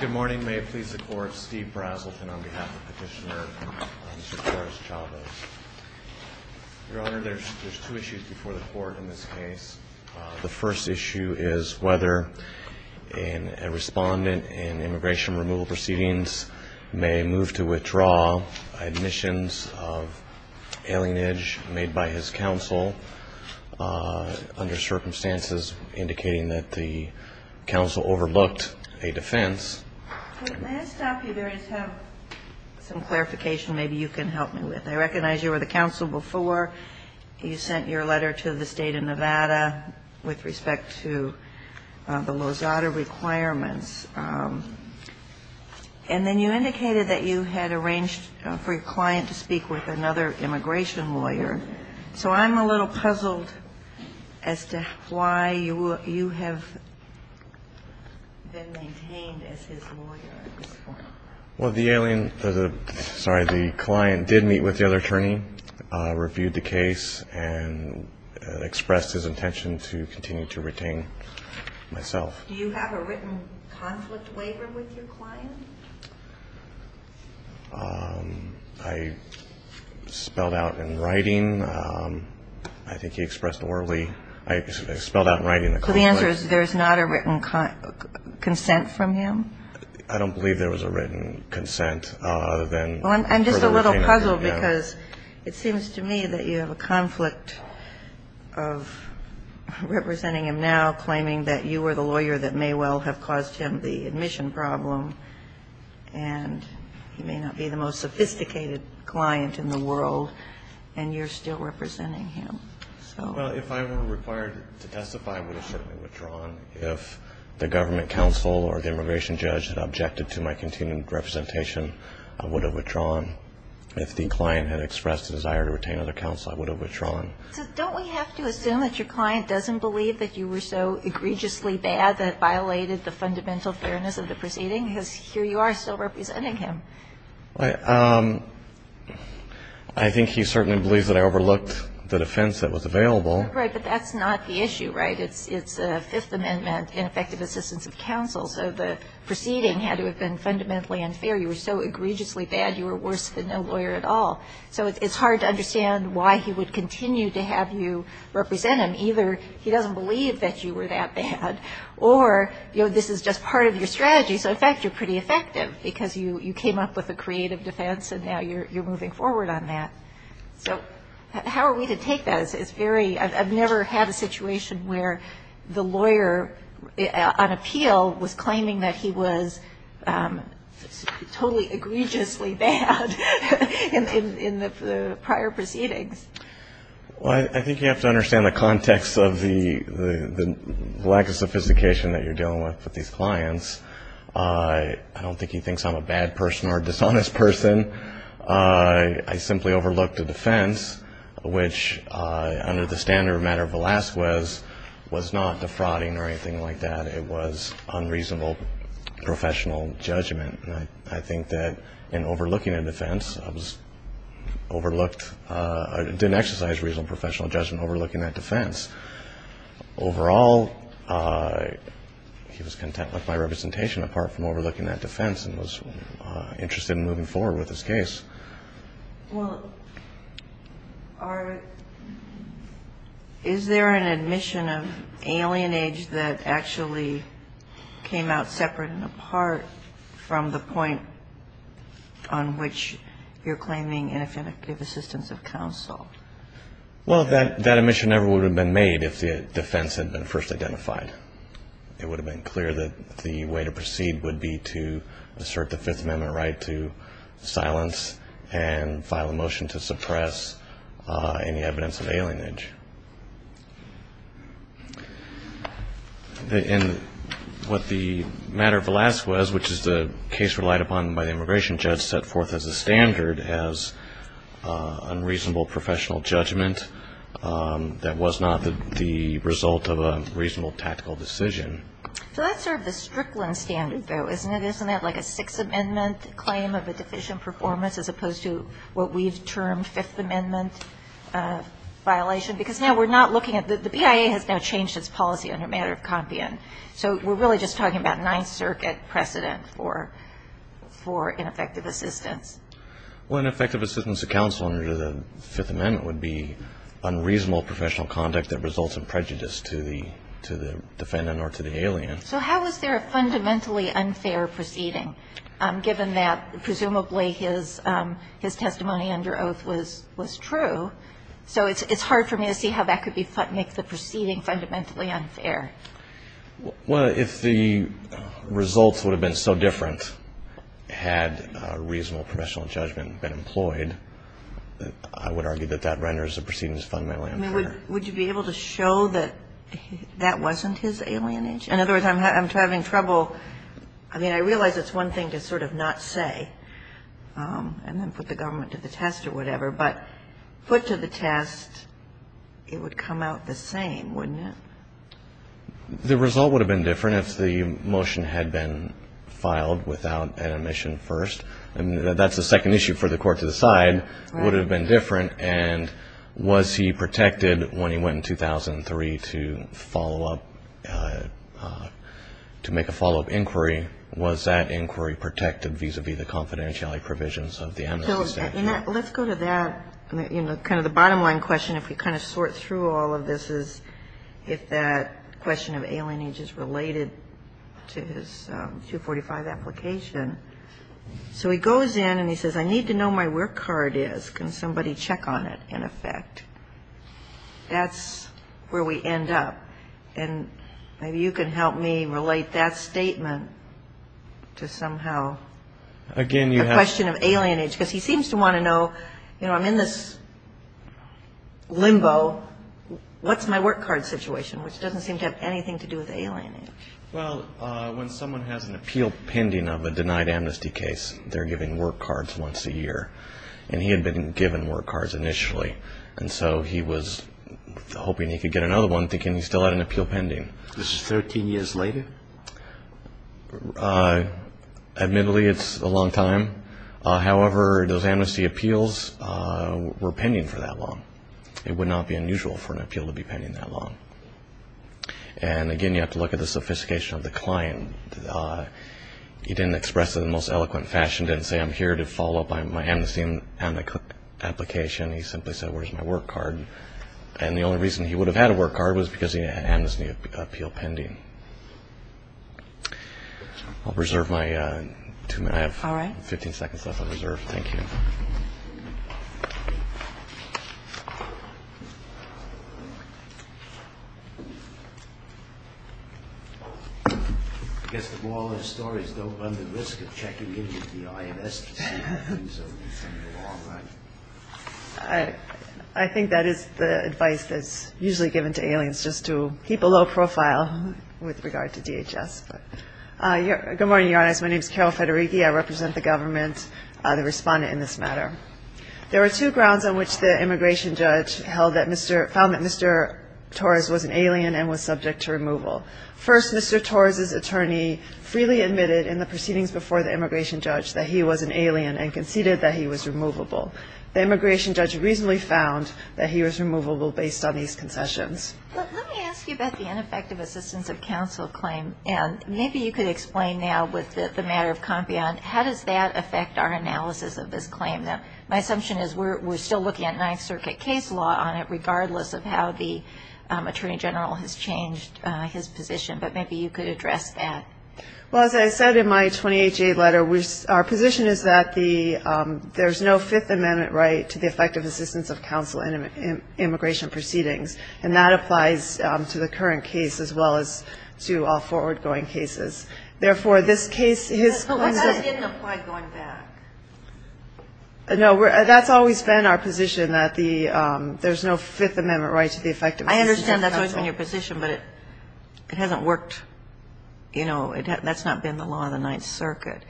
Good morning. May it please the Court, Steve Brazelton on behalf of Petitioner Mr. Torres-Chavez. Your Honor, there's two issues before the Court in this case. The first issue is whether a respondent in immigration removal proceedings may move to withdraw admissions of alienage made by his counsel under circumstances indicating that the counsel overlooked a defense, and the second issue is whether a respondent in immigration removal proceedings may move that the counsel overlooked a defense. May I stop you there and have some clarification maybe you can help me with. I recognize you were the counsel before. You sent your letter to the State of Nevada with respect to the alienage, and you said that the counsel overlooked a defense. Do you have a written conflict waiver with your client as his lawyer in this form? Well, the alien – sorry, the client did meet with the other attorney, reviewed the case, and expressed his intention to continue to retain myself. Do you have a written conflict waiver with your client? I spelled out in writing. I think he expressed orally. I spelled out in writing the conflict. So the answer is there's not a written consent from him? I don't believe there was a written consent other than for him to retain himself. Well, I'm just a little puzzled because it seems to me that you have a conflict of representing him now, claiming that you were the lawyer that may well have caused him the admission problem, and he may not be the most sophisticated client in the world, and you're still representing him. Well, if I were required to testify, I would have certainly withdrawn. If the government counsel or the immigration judge had objected to my continued representation, I would have withdrawn. If the client had expressed a desire to retain other counsel, I would have withdrawn. So don't we have to assume that your client doesn't believe that you were so egregiously bad that it violated the fundamental fairness of the proceeding? Because here you are still representing him. I think he certainly believes that I overlooked the defense that was available. Right. But that's not the issue, right? It's the Fifth Amendment, ineffective assistance of counsel. So the proceeding had to have been fundamentally unfair. You were so egregiously bad, you were worse than no lawyer at all. So it's hard to understand why he would continue to have you represent him. Either he doesn't believe that you were that bad, or, you know, this is just part of your strategy. So, in fact, you're pretty effective because you came up with a creative defense, and now you're moving forward on that. So how are we to take that? It's very – I've never had a situation where the lawyer on appeal was claiming that he was totally egregiously bad in the prior proceedings. Well, I think you have to understand the context of the lack of sophistication that you're dealing with with these clients. I don't think he thinks I'm a bad person or a dishonest person. I simply overlooked a defense which, under the standard matter of Velazquez, was not defrauding or anything like that. It was unreasonable professional judgment. And I think that in overlooking a defense, I was overlooked – I didn't exercise reasonable professional judgment overlooking that defense. Overall, he was content with my representation apart from overlooking that defense and was interested in moving forward with his case. Well, is there an admission of alienage that actually came out separate and apart from the point on which you're claiming ineffective assistance of counsel? Well, that admission never would have been made if the defense had been first identified. It would have been clear that the way to proceed would be to assert the Fifth Amendment right to silence and file a motion to suppress any evidence of alienage. And what the matter of Velazquez, which is the case relied upon by the immigration judge, set forth as a standard as unreasonable professional judgment that was not the result of a reasonable tactical decision. So that's sort of the Strickland standard, though, isn't it? Isn't that like a Sixth Amendment claim of a deficient performance as opposed to what we've termed Fifth Amendment violation? Because now we're not looking at the PIA has now changed its policy on a matter of compian. So we're really just talking about Ninth Circuit precedent for ineffective assistance. Well, ineffective assistance of counsel under the Fifth Amendment would be unreasonable professional conduct that results in prejudice to the defendant or to the alien. So how is there a fundamentally unfair proceeding, given that presumably his testimony under oath was true? So it's hard for me to see how that could make the proceeding fundamentally unfair. Well, if the results would have been so different had reasonable professional judgment been employed, I would argue that that renders the proceedings fundamentally unfair. I mean, would you be able to show that that wasn't his alienage? In other words, I'm having trouble. I mean, I realize it's one thing to sort of not say and then put the government to the test or whatever, but put to the test, it would come out the same, wouldn't it? The result would have been different if the motion had been filed without an omission first. I mean, that's the second issue for the court to decide. Right. Would it have been different? And was he protected when he went in 2003 to follow up to make a follow-up inquiry? Was that inquiry protected vis-à-vis the confidentiality provisions of the MSA? Let's go to that. You know, kind of the bottom line question, if we kind of sort through all of this, is if that question of alienage is related to his 245 application. So he goes in and he says, I need to know my work card is. Can somebody check on it, in effect? That's where we end up. And maybe you can help me relate that statement to somehow. Again, you have The question of alienage, because he seems to want to know, you know, I'm in this limbo. What's my work card situation, which doesn't seem to have anything to do with alienage? Well, when someone has an appeal pending of a denied amnesty case, they're given work cards once a year. And he had been given work cards initially. And so he was hoping he could get another one, thinking he still had an appeal pending. This is 13 years later? Admittedly, it's a long time. However, those amnesty appeals were pending for that long. It would not be unusual for an appeal to be pending that long. And again, you have to look at the sophistication of the client. He didn't express it in the most eloquent fashion, didn't say, I'm here to follow up on my amnesty application. He simply said, where's my work card? And the only reason he would have had a work card was because he didn't have an amnesty appeal pending. I'll reserve my two minutes. I have 15 seconds left on reserve. Thank you. I guess the moral of the story is don't run the risk of checking in with the IRS. I think that is the advice that's usually given to aliens, just to keep a low profile with regard to DHS. Good morning, Your Honor. My name is Carol Federighi. I represent the government, the respondent in this matter. There were two grounds on which the immigration judge found that Mr. Torres was an alien and was subject to removal. First, Mr. Torres' attorney freely admitted in the proceedings before the immigration judge that he was an alien and conceded that he was removable. The immigration judge reasonably found that he was removable based on these concessions. Let me ask you about the ineffective assistance of counsel claim. Maybe you could explain now with the matter of Compion, how does that affect our analysis of this claim? My assumption is we're still looking at Ninth Circuit case law on it, regardless of how the attorney general has changed his position, but maybe you could address that. Well, as I said in my 28-J letter, our position is that there's no Fifth Amendment right to the effective assistance of counsel in immigration proceedings, and that applies to the current case as well as to all forward-going cases. Therefore, this case is What does in apply going back? No, that's always been our position, that there's no Fifth Amendment right to the effective I understand that's always been your position, but it hasn't worked. You know, that's not been the law in the Ninth Circuit.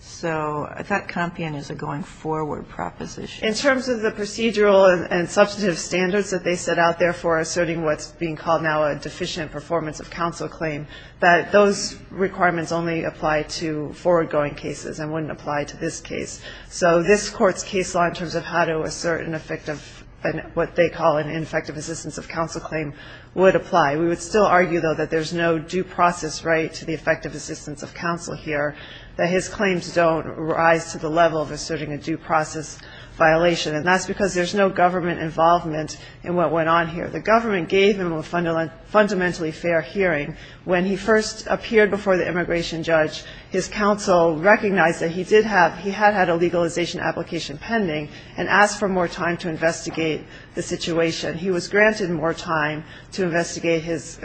So I thought Compion is a going forward proposition. In terms of the procedural and substantive standards that they set out there for asserting what's being called now a deficient performance of counsel claim, that those requirements only apply to forward-going cases and wouldn't apply to this case. So this Court's case law in terms of how to assert an effective and what they call an ineffective assistance of counsel claim would apply. We would still argue, though, that there's no due process right to the effective assistance of counsel here, that his claims don't rise to the level of asserting a due process violation, and that's because there's no government involvement in what went on here. The government gave him a fundamentally fair hearing. When he first appeared before the immigration judge, his counsel recognized that he had had a legalization application pending and asked for more time to investigate the situation. He was granted more time to investigate his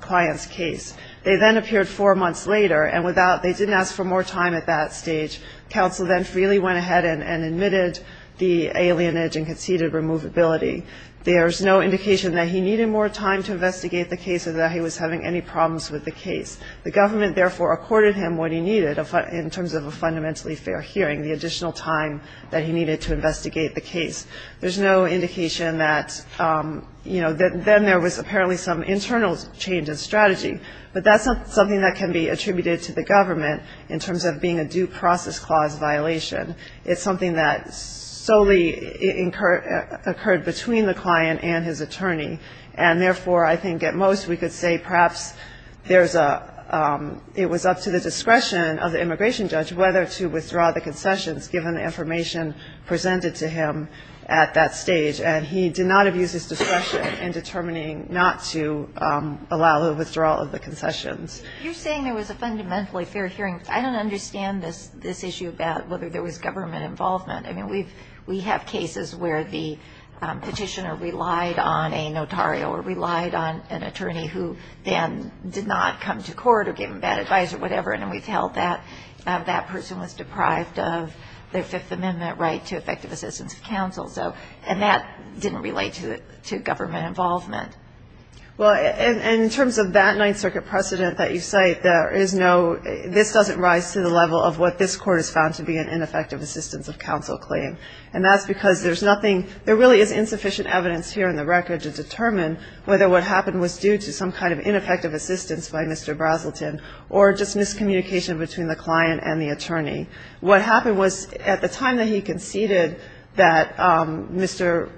client's case. They then appeared four months later, and they didn't ask for more time at that stage. Counsel then freely went ahead and admitted the alienage and conceded removability. There's no indication that he needed more time to investigate the case or that he was having any problems with the case. The government, therefore, accorded him what he needed in terms of a fundamentally fair hearing, the additional time that he needed to investigate the case. There's no indication that, you know, then there was apparently some internal change in strategy, but that's not something that can be attributed to the government in terms of being a due process clause violation. It's something that solely occurred between the client and his attorney. And therefore, I think at most we could say perhaps there's a – it was up to the discretion of the immigration judge whether to withdraw the concessions given the information presented to him at that stage. And he did not abuse his discretion in determining not to allow the withdrawal of the concessions. You're saying there was a fundamentally fair hearing. I don't understand this issue about whether there was government involvement. I mean, we have cases where the petitioner relied on a notario or relied on an attorney who then did not come to court or give him bad advice or whatever, and we've held that that person was deprived of their Fifth Amendment right to effective assistance of counsel. And that didn't relate to government involvement. Well, and in terms of that Ninth Circuit precedent that you cite, there is no – this doesn't rise to the level of what this Court has found to be an ineffective assistance of counsel claim. And that's because there's nothing – there really is insufficient evidence here in the record to determine whether what happened was due to some kind of ineffective assistance by Mr. Braselton or just miscommunication between the client and the attorney. What happened was at the time that he conceded that Mr.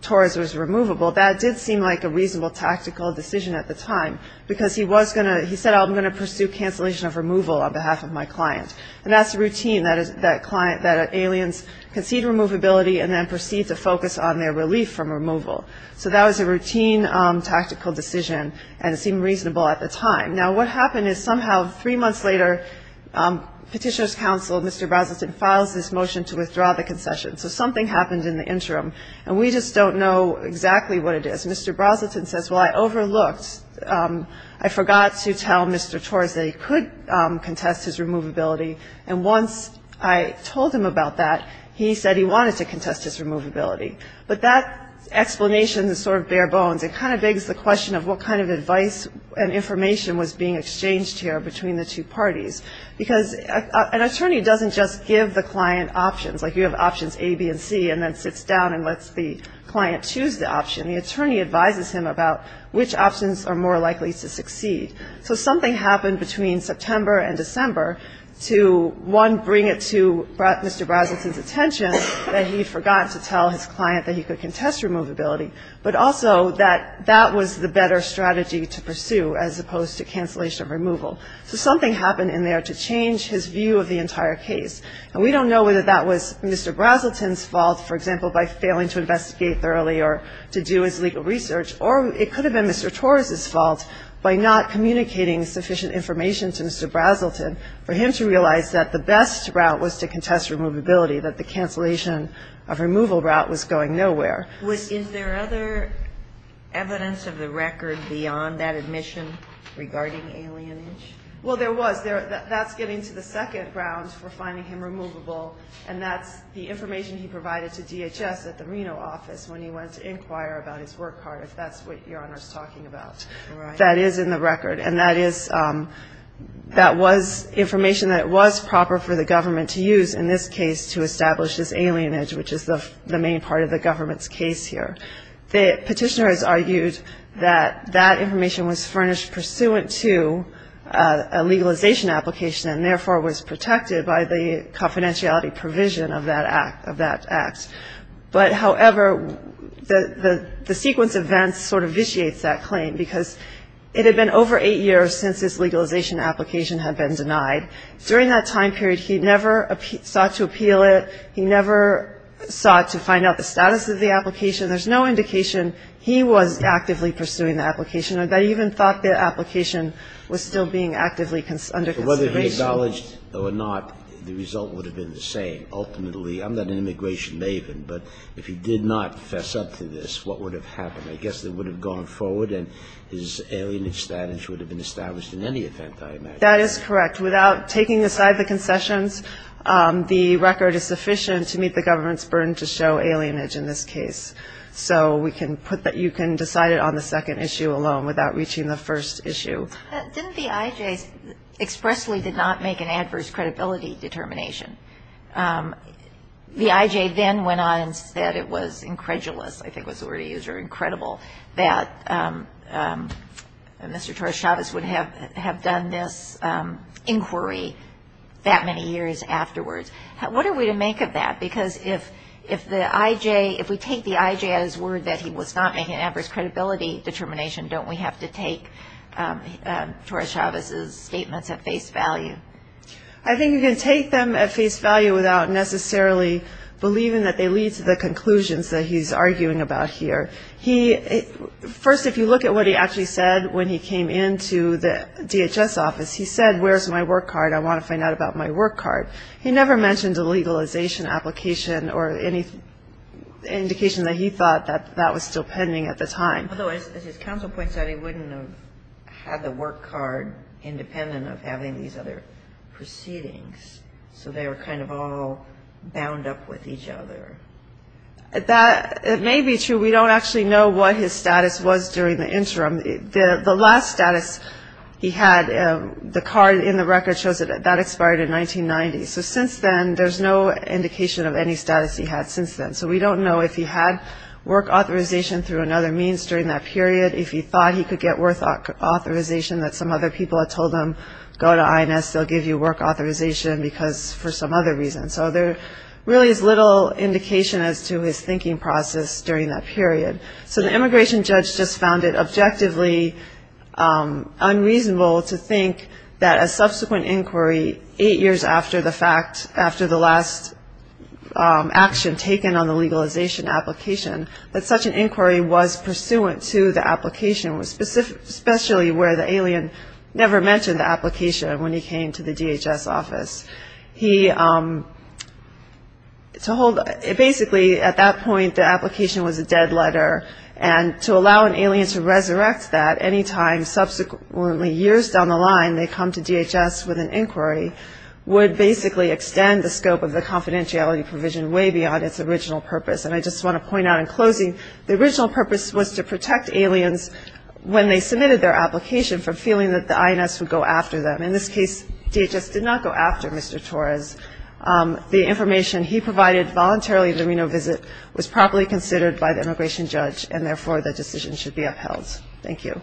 Torres was removable, that did seem like a reasonable tactical decision at the time, because he was going to – he said, I'm going to pursue cancellation of removal on behalf of my client. And that's the routine, that aliens concede removability and then proceed to focus on their relief from removal. So that was a routine tactical decision, and it seemed reasonable at the time. Now, what happened is somehow three months later, Petitioner's counsel, Mr. Braselton, files this motion to withdraw the concession. So something happened in the interim. And we just don't know exactly what it is. Mr. Braselton says, well, I overlooked – I forgot to tell Mr. Torres that he could contest his removability. And once I told him about that, he said he wanted to contest his removability. But that explanation is sort of bare bones. It kind of begs the question of what kind of advice and information was being exchanged here between the two parties. Because an attorney doesn't just give the client options, like you have options A, B, and C, and then sits down and lets the client choose the option. The attorney advises him about which options are more likely to succeed. So something happened between September and December to, one, bring it to Mr. Braselton's attention that he had forgotten to tell his client that he could contest removability, but also that that was the better strategy to pursue as opposed to cancellation of removal. So something happened in there to change his view of the entire case. And we don't know whether that was Mr. Braselton's fault, for example, by failing to investigate thoroughly or to do his legal to realize that the best route was to contest removability, that the cancellation of removal route was going nowhere. Is there other evidence of the record beyond that admission regarding alienage? Well, there was. That's getting to the second ground for finding him removable, and that's the information he provided to DHS at the Reno office when he went to inquire about his work card, if that's what Your Honor is talking about. Right. That is in the record, and that is, that was information that was proper for the government to use in this case to establish this alienage, which is the main part of the government's case here. The petitioner has argued that that information was furnished pursuant to a legalization application and therefore was protected by the confidentiality provision of that act. But, however, the sequence of events sort of it had been over eight years since this legalization application had been denied. During that time period, he never sought to appeal it. He never sought to find out the status of the application. There's no indication he was actively pursuing the application. I even thought the application was still being actively under consideration. But whether he acknowledged it or not, the result would have been the same. Ultimately I'm not an immigration maven, but if he did not fess up to this, what would have happened? I guess it would have gone forward and his alienage status would have been established in any event, I imagine. That is correct. Without taking aside the concessions, the record is sufficient to meet the government's burden to show alienage in this case. So we can put that you can decide it on the second issue alone without reaching the first issue. Didn't the I.J. expressly did not make an adverse credibility determination? The I.J. then went on and said it was incredulous, I think was the word he used, or incredible, that Mr. Torres-Chavez would have done this inquiry that many years afterwards. What are we to make of that? Because if the I.J. if we take the I.J. at his word that he was not making adverse credibility determination, don't we have to take Torres-Chavez's statements at face value? I think you can take them at face value without necessarily believing that they lead to the conclusions that he's arguing about here. First if you look at what he actually said when he came into the DHS office, he said where's my work card, I want to find out about my work card. He never mentioned a legalization application or any indication that he thought that that was still pending at the time. Although, as his counsel points out, he wouldn't have had the work card independent of having these other proceedings. So they were kind of all bound up with each other. That may be true. We don't actually know what his status was during the interim. The last status he had, the card in the record shows that that expired in 1990. So since then, there's no indication of any status he had since then. So we don't know if he had work authorization through another means during that period, if he thought he could get work authorization that some other people had told him, go to INS, they'll give you work authorization because for some other reason. So there really is little indication as to his thinking process during that period. So the immigration judge just found it objectively unreasonable to think that a subsequent inquiry eight years after the fact, after the last action taken on the legalization application, that such an inquiry was pursuant to the application, especially where the alien never mentioned the application when he came to the DHS office. He told basically at that point the application was a dead letter and to allow an alien to resurrect that any time subsequently years down the line they come to DHS with an inquiry would basically extend the scope of the confidentiality provision way beyond its original purpose. And I just want to point out in closing, the original purpose was to protect aliens when they submitted their application from feeling that the INS would go after them. In this case, DHS did not go after Mr. Torres. The information he provided voluntarily at the Reno visit was properly considered by the immigration judge and therefore the decision should be upheld. Thank you.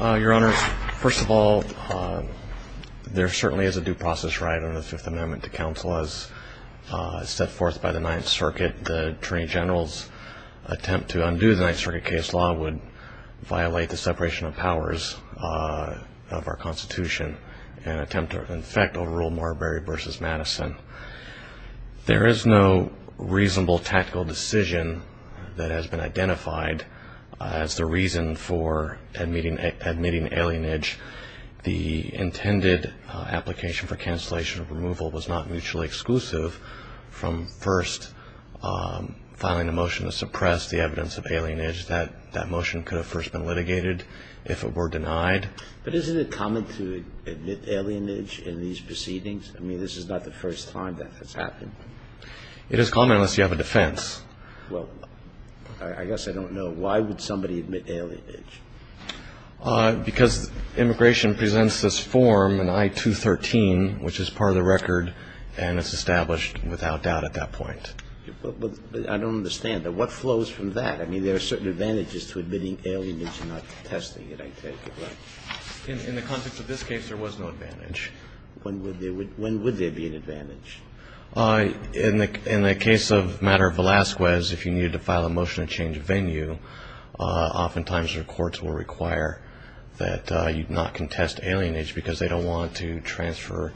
Your Honor, first of all, there certainly is a due process right under the Fifth Amendment to counsel as set forth by the Ninth Circuit. The Attorney General's attempt to undo the Ninth Circuit case law would violate the separation of powers. There is no reasonable tactical decision that has been identified as the reason for admitting alienage. The intended application for cancellation of removal was not mutually exclusive from first filing a motion to suppress the evidence of alienage. But isn't it common to admit alienage in these proceedings? I mean, this is not the first time that has happened. It is common unless you have a defense. Well, I guess I don't know. Why would somebody admit alienage? Because immigration presents this form in I-213, which is part of the record, and it's established without doubt at that point. But I don't understand. What flows from that? I mean, there are certain advantages to admitting alienage and not testing it, I take it. In the context of this case, there was no advantage. When would there be an advantage? In the case of the matter of Velazquez, if you needed to file a motion to change venue, oftentimes the courts will require that you not contest alienage because they don't want to transfer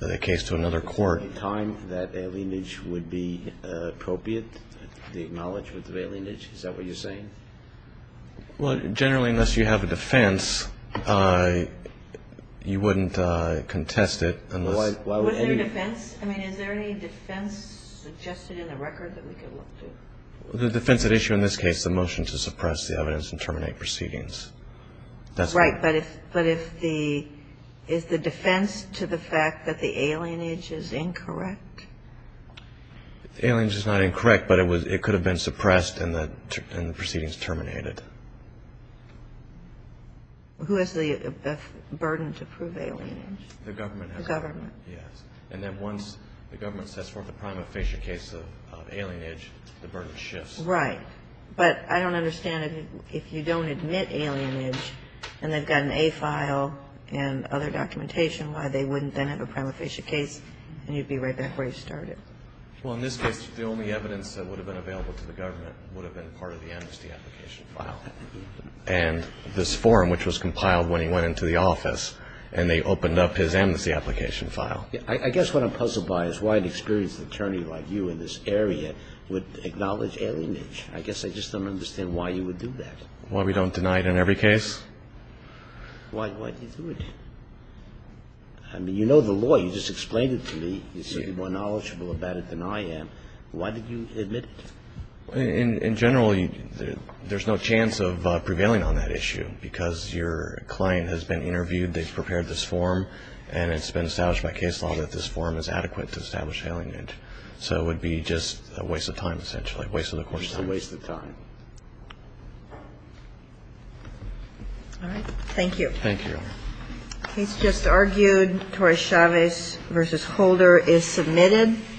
the case to another court. Is there a time that alienage would be appropriate to acknowledge with alienage? Is that what you're saying? Well, generally, unless you have a defense, you wouldn't contest it. Was there a defense? I mean, is there any defense suggested in the record that we could look to? The defense at issue in this case is a motion to suppress the evidence and terminate proceedings. Right. But is the defense to the fact that the alienage is incorrect? The alienage is not incorrect, but it could have been suppressed and the proceedings terminated. Who has the burden to prove alienage? The government. And then once the government sets forth a prima facie case of alienage, the burden shifts. Right. But I don't understand if you don't admit alienage and they've got an A file and other documentation, why they wouldn't then have a prima facie case and you'd be right back where you started. Well, in this case, the only evidence that would have been available to the government would have been part of the amnesty application file. And this form, which was compiled when he went into the office, and they opened up his amnesty application file. I guess what I'm puzzled by is why an experienced attorney like you in this area would acknowledge alienage. I guess I just don't understand why you would do that. Why we don't deny it in every case? Why do you do it? I mean, you know the law. You just explained it to me. You said you're more knowledgeable about it than I am. Why did you admit it? In general, there's no chance of prevailing on that issue because your client has been interviewed, they've prepared this form, and it's been established by case law that this form is adequate to establish alienage. So it would be just a waste of time, essentially, a waste of the court's time. Just a waste of time. Thank you. Thank you, Your Honor. The case just argued, Torres-Chavez v. Holder is submitted.